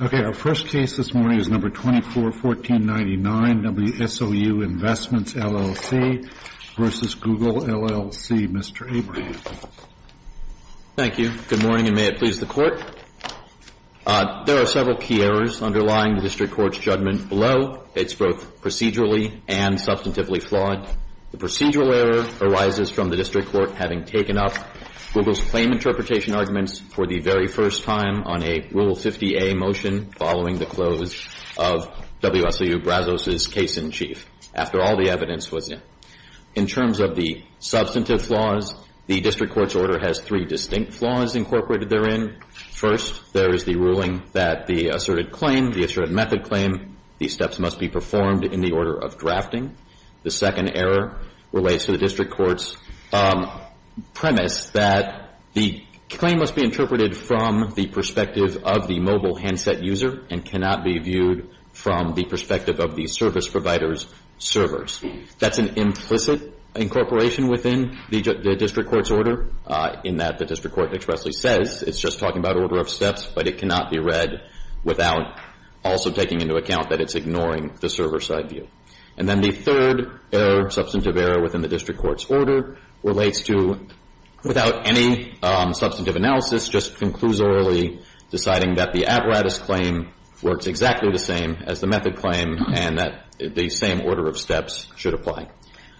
Okay, our first case this morning is number 24-1499, WSOU Investments LLC v. Google LLC. Mr. Abraham. Thank you. Good morning, and may it please the Court. There are several key errors underlying the District Court's judgment below. It's both procedurally and substantively flawed. The procedural error arises from the District Court having taken up Google's claim interpretation arguments for the very first time on a Rule 50A motion following the close of WSOU Brazos' case-in-chief. After all the evidence was in. In terms of the substantive flaws, the District Court's order has three distinct flaws incorporated therein. First, there is the ruling that the asserted claim, the asserted method claim, these steps must be performed in the order of drafting. The second error relates to the District Court's premise that the claim must be interpreted from the perspective of the mobile handset user and cannot be viewed from the perspective of the service provider's servers. That's an implicit incorporation within the District Court's order in that the District Court expressly says it's just talking about order of steps, but it cannot be read without also taking into account that it's ignoring the server side view. And then the third error, substantive error, within the District Court's order relates to without any substantive analysis, just conclusorily deciding that the apparatus claim works exactly the same as the method claim and that the same order of steps should apply.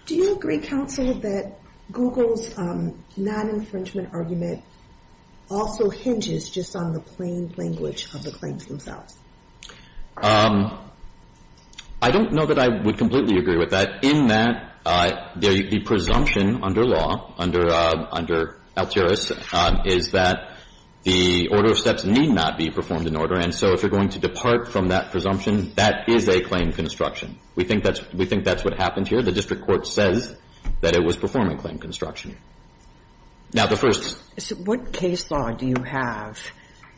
Do you agree, counsel, that Google's non-infringement argument also hinges just on the plain language of the claims themselves? I don't know that I would completely agree with that, in that the presumption under law, under Alteris, is that the order of steps need not be performed in order. And so if you're going to depart from that presumption, that is a claim construction. We think that's what happened here. The District Court says that it was performing claim construction. Now, the first ---- So what case law do you have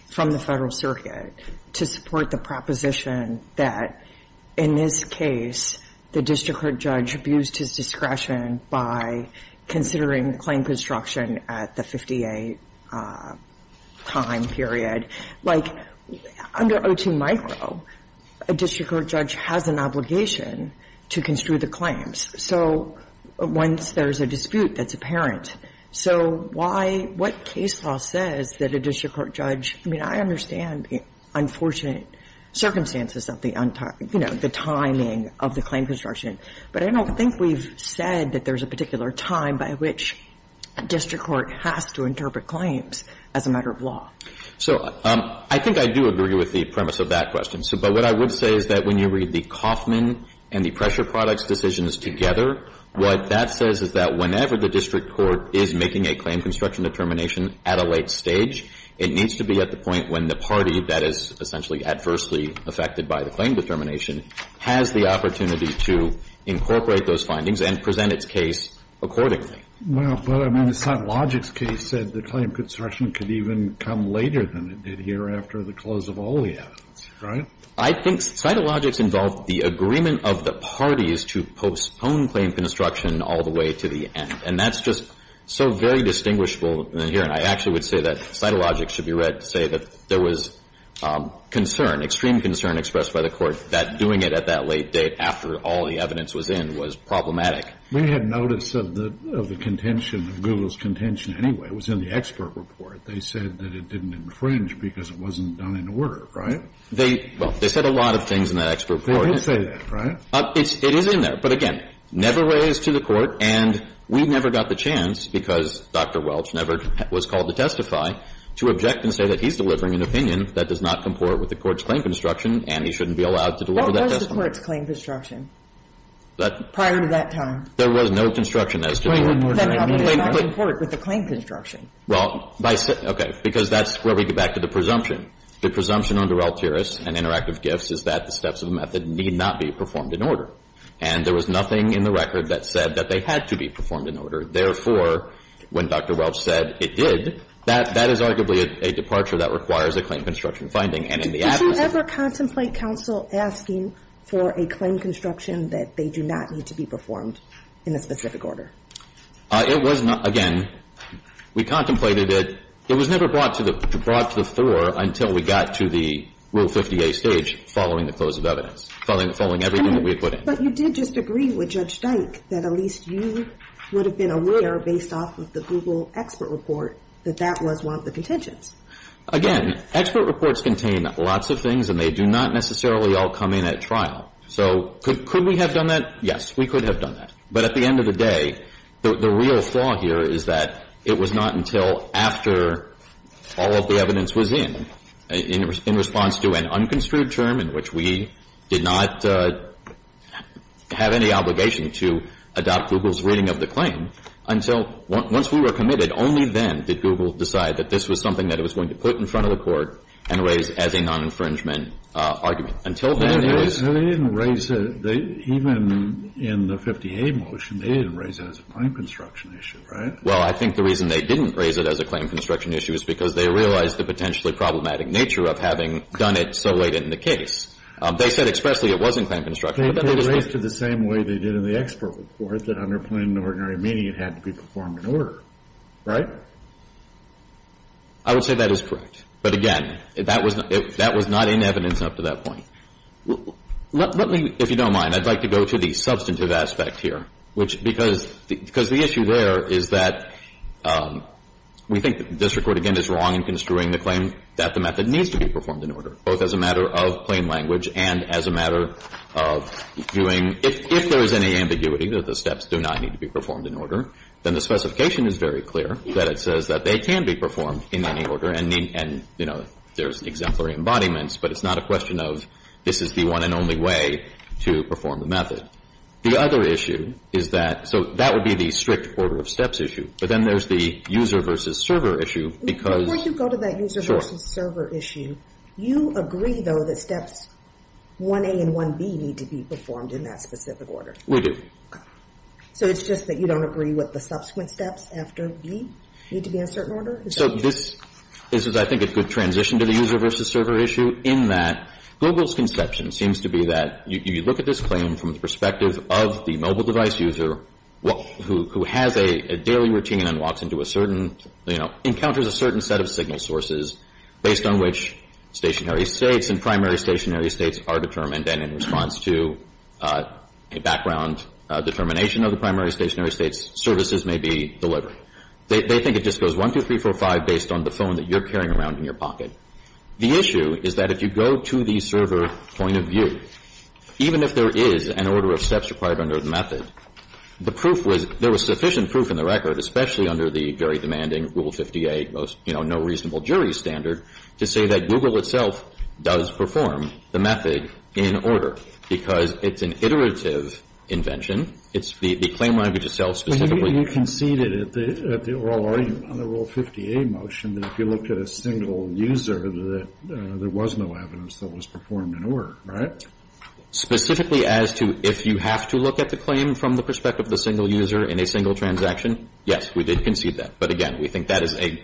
from the Federal Circuit to support the proposition that in this case the District Court judge abused his discretion by considering claim construction at the 58 time period? Like, under 02 micro, a District Court judge has an obligation to construe the claims. So once there's a dispute, that's apparent. So why ---- what case law says that a District Court judge ---- I mean, I understand the unfortunate circumstances of the, you know, the timing of the claim construction. But I don't think we've said that there's a particular time by which a District Court has to interpret claims as a matter of law. So I think I do agree with the premise of that question. But what I would say is that when you read the Kaufman and the pressure products decisions together, what that says is that whenever the District Court is making a claim construction determination at a late stage, it needs to be at the point when the party that is essentially adversely affected by the claim determination has the opportunity to incorporate those findings and present its case accordingly. Well, but I mean, the Cytologics case said the claim construction could even come later than it did here after the close of all the evidence, right? I think Cytologics involved the agreement of the parties to postpone claim construction all the way to the end. And that's just so very distinguishable here. And I actually would say that Cytologics should be read to say that there was concern, extreme concern expressed by the Court that doing it at that late date after all the evidence was in was problematic. We had notice of the contention, of Google's contention anyway. It was in the expert report. They said that it didn't infringe because it wasn't done in order, right? Well, they said a lot of things in that expert report. They did say that, right? It is in there. But again, never raised to the Court, and we never got the chance, because Dr. Welch never was called to testify, to object and say that he's delivering an opinion that does not comport with the Court's claim construction and he shouldn't be allowed to deliver that testimony. What was the Court's claim construction prior to that time? There was no construction as to the order. Then how did it not comport with the claim construction? Well, by say – okay. Because that's where we get back to the presumption. The presumption under Alturas and Interactive Gifts is that the steps of the method need not be performed in order. And there was nothing in the record that said that they had to be performed in order. Therefore, when Dr. Welch said it did, that is arguably a departure that requires a claim construction finding. And in the absence of that – Did you ever contemplate counsel asking for a claim construction that they do not need to be performed in a specific order? It was not – again, we contemplated it. It was never brought to the floor until we got to the Rule 50A stage following the close of evidence, following everything that we had put in. But you did just agree with Judge Dyke that at least you would have been aware, based off of the Google expert report, that that was one of the contentions. Again, expert reports contain lots of things and they do not necessarily all come in at trial. So could we have done that? Yes, we could have done that. But at the end of the day, the real flaw here is that it was not until after all of the evidence was in, in response to an unconstrued term in which we did not have any obligation to adopt Google's reading of the claim, until once we were committed, only then did Google decide that this was something that it was going to put in front of the Court and raise as a non-infringement argument. Until then, it was. No, they didn't raise it. Even in the 50A motion, they didn't raise it as a claim construction issue, right? Well, I think the reason they didn't raise it as a claim construction issue is because they realized the potentially problematic nature of having done it so late in the case. They said expressly it was in claim construction, but then they just didn't. They raised it the same way they did in the expert report, that under plain and ordinary meaning, it had to be performed in order, right? I would say that is correct. But again, that was not in evidence up to that point. Let me, if you don't mind, I'd like to go to the substantive aspect here, which because the issue there is that we think the district court, again, is wrong in construing the claim that the method needs to be performed in order, both as a matter of plain language and as a matter of doing, if there is any ambiguity that the steps do not need to be performed in order, then the specification is very clear that it says that they can be performed in any order, and, you know, there's exemplary embodiments, but it's not a question of this is the one and only way to perform the method. The other issue is that, so that would be the strict order of steps issue, but then there's the user versus server issue, because Before you go to that user versus server issue, you agree, though, that steps 1A and 1B need to be performed in that specific order. We do. So it's just that you don't agree with the subsequent steps after B need to be in a certain order? So this is, I think, a good transition to the user versus server issue in that Global's conception seems to be that you look at this claim from the perspective of the mobile device user who has a daily routine and walks into a certain, you know, encounters a certain set of signal sources based on which stationary states and primary stationary states are determined, and in response to a background determination of the primary stationary states, services may be delivered. They think it just goes 1, 2, 3, 4, 5 based on the phone that you're carrying around in your pocket. The issue is that if you go to the server point of view, even if there is an order of steps required under the method, the proof was there was sufficient proof in the record, especially under the very demanding Rule 58, you know, no reasonable jury standard to say that Google itself does perform the method in order, because it's an iterative invention. It's the claim language itself specifically. Well, you conceded at the oral argument on the Rule 58 motion that if you looked at a single user, that there was no evidence that was performed in order, right? Specifically as to if you have to look at the claim from the perspective of the single user in a single transaction, yes, we did concede that. But again, we think that is a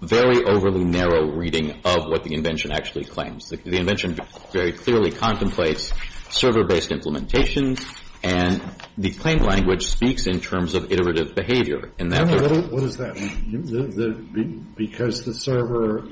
very overly narrow reading of what the invention actually claims. The invention very clearly contemplates server-based implementations, and the claim language speaks in terms of iterative behavior in that regard. What does that mean? Because the server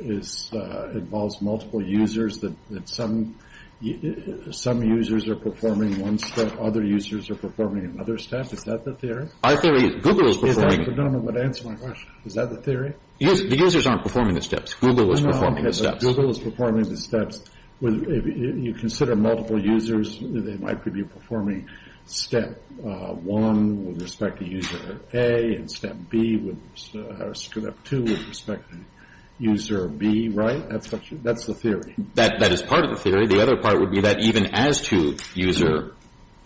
involves multiple users, that some users are performing one step, other users are performing another step? Is that the theory? Our theory is Google is performing the steps. Is that the theory? The users aren't performing the steps. Google is performing the steps. Google is performing the steps. If you consider multiple users, they might be performing Step 1 with respect to User A and Step 2 with respect to User B, right? That's the theory. That is part of the theory. The other part would be that even as to User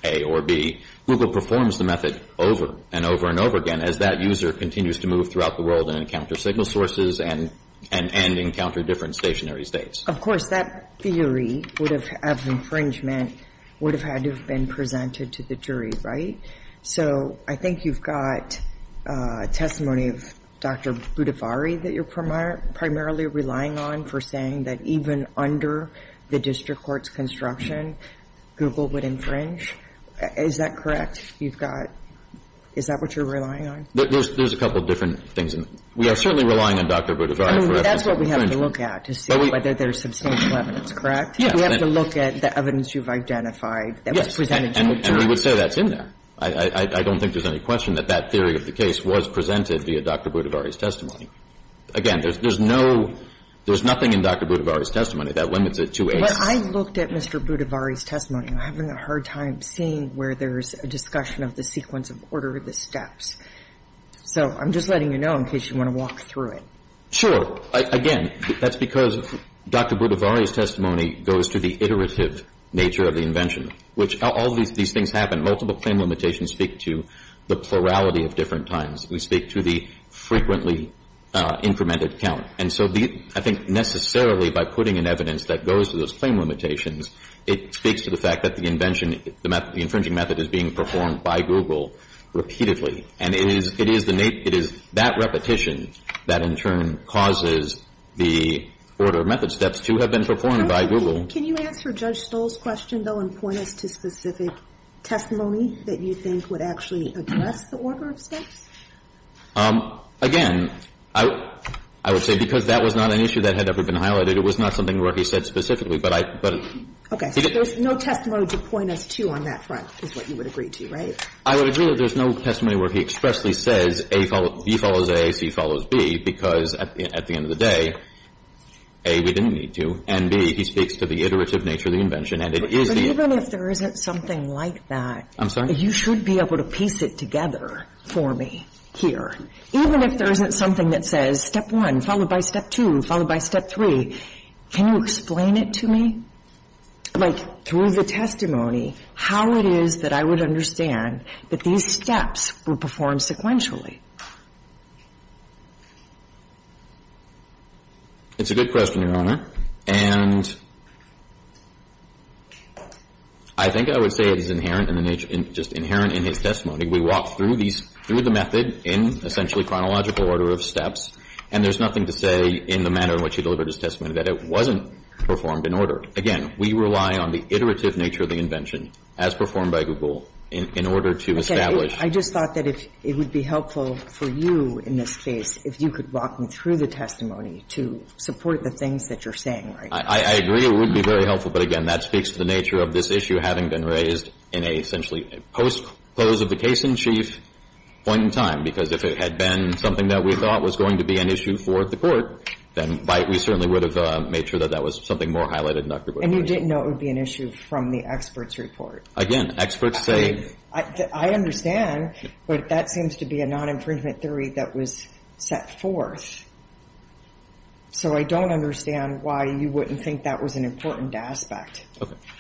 A or B, Google performs the method over and over and over again as that user continues to move throughout the world and encounter signal sources and encounter different stationary states. Of course, that theory of infringement would have had to have been presented to the jury, right? So I think you've got testimony of Dr. Budhavari that you're primarily relying on for saying that even under the district court's construction, Google would infringe. Is that correct? You've got – is that what you're relying on? There's a couple of different things. We are certainly relying on Dr. Budhavari for evidence of infringement. That's what we have to look at to see whether there's substantial evidence, correct? Yes. We have to look at the evidence you've identified that was presented to the jury. And we would say that's in there. I don't think there's any question that that theory of the case was presented via Dr. Budhavari's testimony. Again, there's no – there's nothing in Dr. Budhavari's testimony that limits it to A. But I looked at Mr. Budhavari's testimony. I'm having a hard time seeing where there's a discussion of the sequence of order of the steps. So I'm just letting you know in case you want to walk through it. Sure. Again, that's because Dr. Budhavari's testimony goes to the iterative nature of the invention, which all these things happen. Multiple claim limitations speak to the plurality of different times. We speak to the frequently incremented count. And so I think necessarily by putting in evidence that goes to those claim limitations, it speaks to the fact that the invention, the infringing method is being performed by Google repeatedly. And it is that repetition that in turn causes the order of method steps to have been performed by Google. Can you answer Judge Stoll's question, though, and point us to specific testimony that you think would actually address the order of steps? Again, I would say because that was not an issue that had ever been highlighted, it was not something where he said specifically. But I — but — Okay. So there's no testimony to point us to on that front is what you would agree to, right? I would agree that there's no testimony where he expressly says A follows — B follows A, C follows B, because at the end of the day, A, we didn't need to, and B, he speaks to the iterative nature of the invention, and it is the — But even if there isn't something like that — I'm sorry? You should be able to piece it together for me here. Even if there isn't something that says step one, followed by step two, followed by step three, can you explain it to me? Like, through the testimony, how it is that I would understand that these steps were performed sequentially? It's a good question, Your Honor. And I think I would say it is inherent in the nature — just inherent in his testimony. We walked through these — through the method in essentially chronological order of steps, and there's nothing to say in the manner in which he delivered his testimony that it wasn't performed in order. Again, we rely on the iterative nature of the invention, as performed by Google, in order to establish — I just thought that it would be helpful for you in this case if you could walk me through the testimony to support the things that you're saying right now. I agree. It would be very helpful. But again, that speaks to the nature of this issue having been raised in a essentially post-close of the case-in-chief point in time, because if it had been something that we thought was going to be an issue for the Court, then we certainly would have made sure that that was something more highlighted in Dr. Boies' report. And you didn't know it would be an issue from the experts' report. Again, experts say — I understand, but that seems to be a non-infringement theory that was set forth in your report. So I don't understand why you wouldn't think that was an important aspect.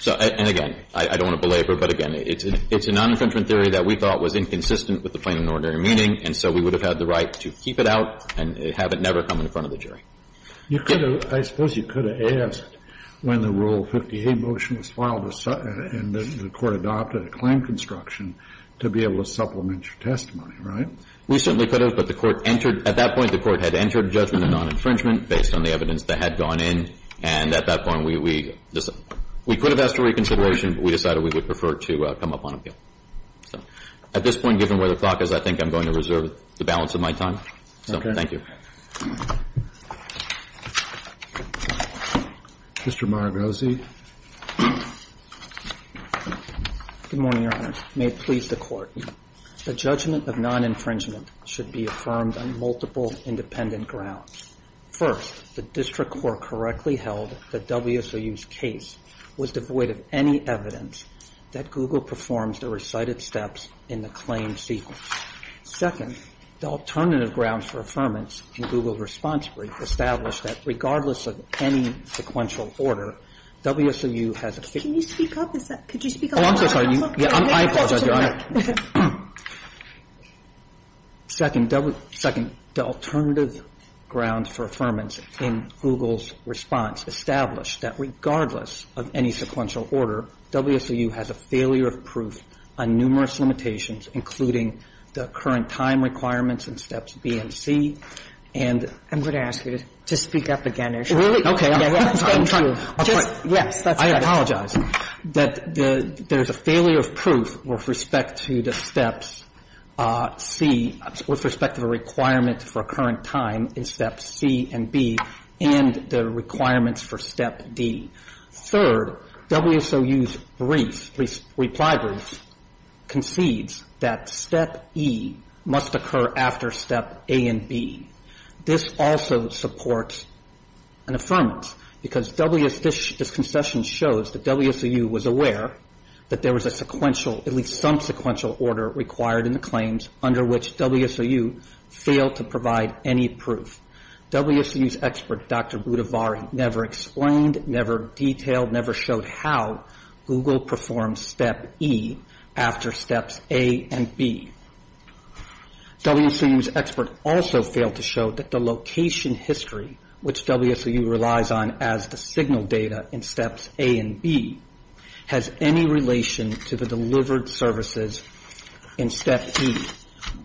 And again, I don't want to belabor, but again, it's a non-infringement theory that we thought was inconsistent with the plain and ordinary meaning, and so we would have had the right to keep it out and have it never come in front of the jury. You could have — I suppose you could have asked when the Rule 58 motion was filed and the Court adopted a claim construction to be able to supplement your testimony, right? We certainly could have. But the Court entered — at that point, the Court had entered judgment of non-infringement based on the evidence that had gone in. And at that point, we — we could have asked for reconsideration, but we decided we would prefer to come up on appeal. So at this point, given where the clock is, I think I'm going to reserve the balance of my time. So thank you. Mr. Maragosi. Good morning, Your Honor. May it please the Court. The judgment of non-infringement should be affirmed on multiple independent grounds. First, the district court correctly held that WSOU's case was devoid of any evidence that Google performs the recited steps in the claim sequence. Second, the alternative grounds for affirmance in Google's response brief established that regardless of any sequential order, WSOU has a — Can you speak up? Could you speak up? Oh, I'm so sorry. I apologize, Your Honor. Second, the alternative grounds for affirmance in Google's response established that regardless of any sequential order, WSOU has a failure of proof on numerous limitations, including the current time requirements and steps B and C, and — I'm going to ask you to speak up again, Your Honor. Really? Okay. Yes, that's better. I apologize. That there's a failure of proof with respect to the steps C — with respect to the requirement for current time in steps C and B and the requirements for step D. Third, WSOU's brief, reply brief, concedes that step E must occur after step A and B. This also supports an affirmance because W — this concession shows that WSOU was aware that there was a sequential — at least some sequential order required in the claims under which WSOU failed to provide any proof. WSOU's expert, Dr. Budhavar, never explained, never detailed, never showed how Google performed step E after steps A and B. WSOU's expert also failed to show that the location history, which WSOU relies on as the signal data in steps A and B, has any relation to the delivered services in step E.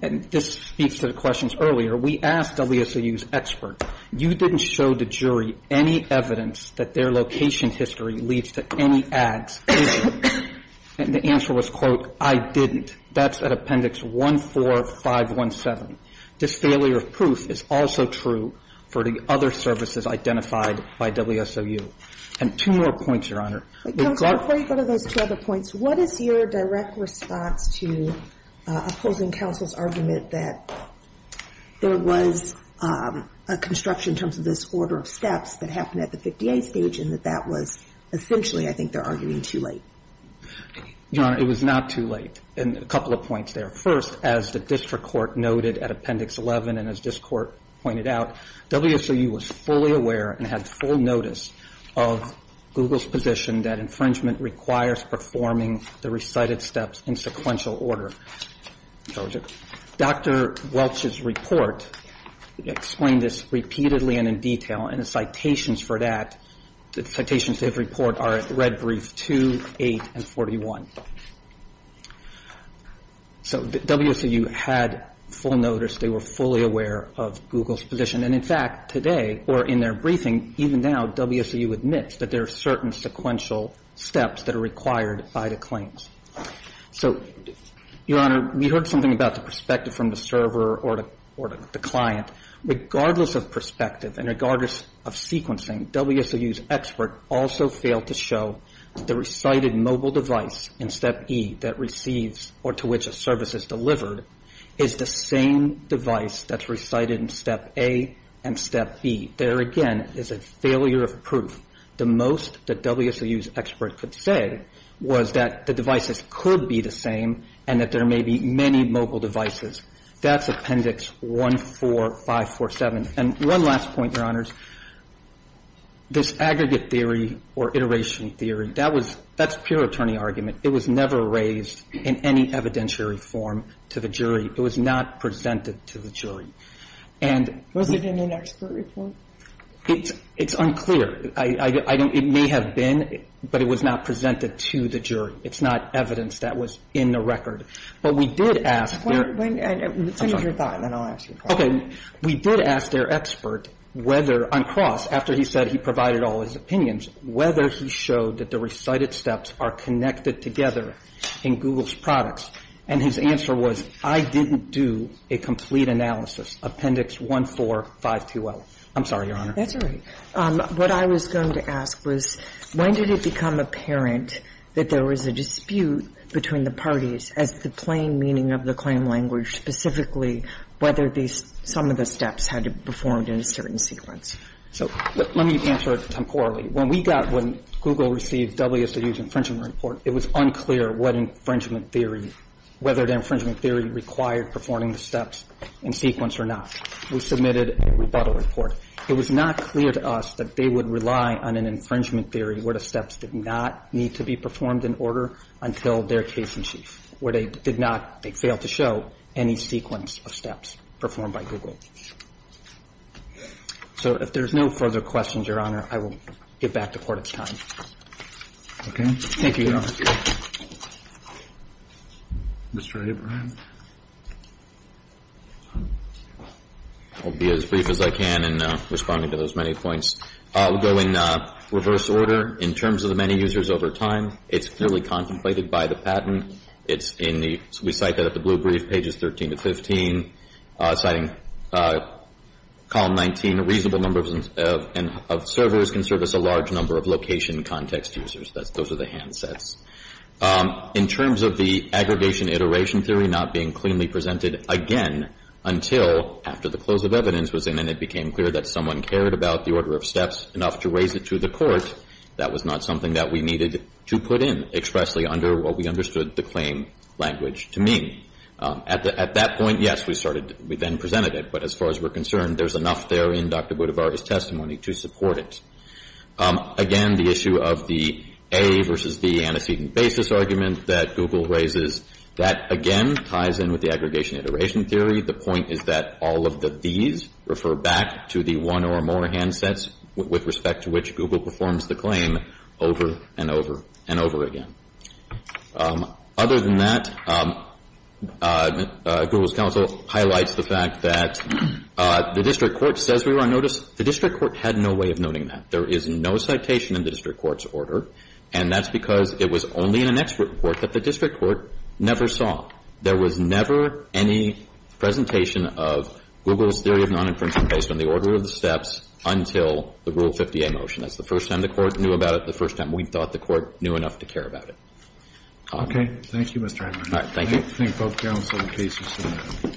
And this speaks to the questions earlier. We asked WSOU's expert, you didn't show the jury any evidence that their location history leads to any ads. And the answer was, quote, I didn't. That's at Appendix 14517. This failure of proof is also true for the other services identified by WSOU. And two more points, Your Honor. Kagan. Before you go to those two other points, what is your direct response to opposing counsel's argument that there was a construction in terms of this order of steps that happened at the 58 stage and that that was essentially, I think, they're arguing too late? Your Honor, it was not too late. And a couple of points there. First, as the district court noted at Appendix 11 and as this court pointed out, WSOU was fully aware and had full notice of Google's position that infringement requires performing the recited steps in sequential order. Dr. Welch's report explained this repeatedly and in detail. And the citations for that, the citations they report are at Red Brief 2, 8, and 41. So WSOU had full notice. They were fully aware of Google's position. And, in fact, today or in their briefing, even now, WSOU admits that there are certain sequential steps that are required by the claims. So, Your Honor, we heard something about the perspective from the server or the client. Regardless of perspective and regardless of sequencing, WSOU's expert also failed to show that the recited mobile device in Step E that receives or to which a service is delivered is the same device that's recited in Step A and Step B. There again is a failure of proof. The most that WSOU's expert could say was that the devices could be the same and that there may be many mobile devices. That's Appendix 1, 4, 5, 4, 7. And one last point, Your Honors. This aggregate theory or iteration theory, that was – that's pure attorney argument. It was never raised in any evidentiary form to the jury. It was not presented to the jury. And we – Was it in an expert report? It's unclear. I don't – it may have been, but it was not presented to the jury. It's not evidence that was in the record. But we did ask – I'm sorry. Okay. We did ask their expert whether, on cross, after he said he provided all his opinions, whether he showed that the recited Steps are connected together in Google's products. And his answer was, I didn't do a complete analysis, Appendix 1, 4, 5, 2L. I'm sorry, Your Honor. That's all right. What I was going to ask was, when did it become apparent that there was a dispute between the parties as to the plain meaning of the claim language, specifically whether some of the Steps had to be performed in a certain sequence? So let me answer it temporally. When we got – when Google received WSU's infringement report, it was unclear what infringement theory – whether the infringement theory required performing the Steps in sequence or not. We submitted a rebuttal report. It was not clear to us that they would rely on an infringement theory where the Steps did not need to be performed in order until their case in chief, where they did not – they failed to show any sequence of Steps performed by Google. So if there's no further questions, Your Honor, I will get back to court. It's time. Thank you, Your Honor. Mr. Abraham. I'll be as brief as I can in responding to those many points. We'll go in reverse order. In terms of the many users over time, it's clearly contemplated by the patent. It's in the – we cite that at the blue brief, pages 13 to 15, citing column 19, a reasonable number of servers can service a large number of location context users. Those are the handsets. In terms of the aggregation iteration theory not being cleanly presented again until after the close of evidence was in and it became clear that someone cared about the order of Steps enough to raise it to the court, that was not something that we needed to put in expressly under what we understood the claim language to mean. At that point, yes, we started – we then presented it. But as far as we're concerned, there's enough there in Dr. Budvar's testimony to support it. Again, the issue of the A versus the antecedent basis argument that Google raises, that again ties in with the aggregation iteration theory. The point is that all of the these refer back to the one or more handsets with respect to which Google performs the claim over and over and over again. Other than that, Google's counsel highlights the fact that the district court says we were on notice. The district court had no way of noting that. There is no citation in the district court's order. And that's because it was only in an expert report that the district court never saw. There was never any presentation of Google's theory of non-infringement based on the order of the Steps until the Rule 50A motion. That's the first time the Court knew about it, the first time we thought the Court knew enough to care about it. Okay. Thank you, Mr. Adler. All right. Thank you. I thank both counsel in case you so much.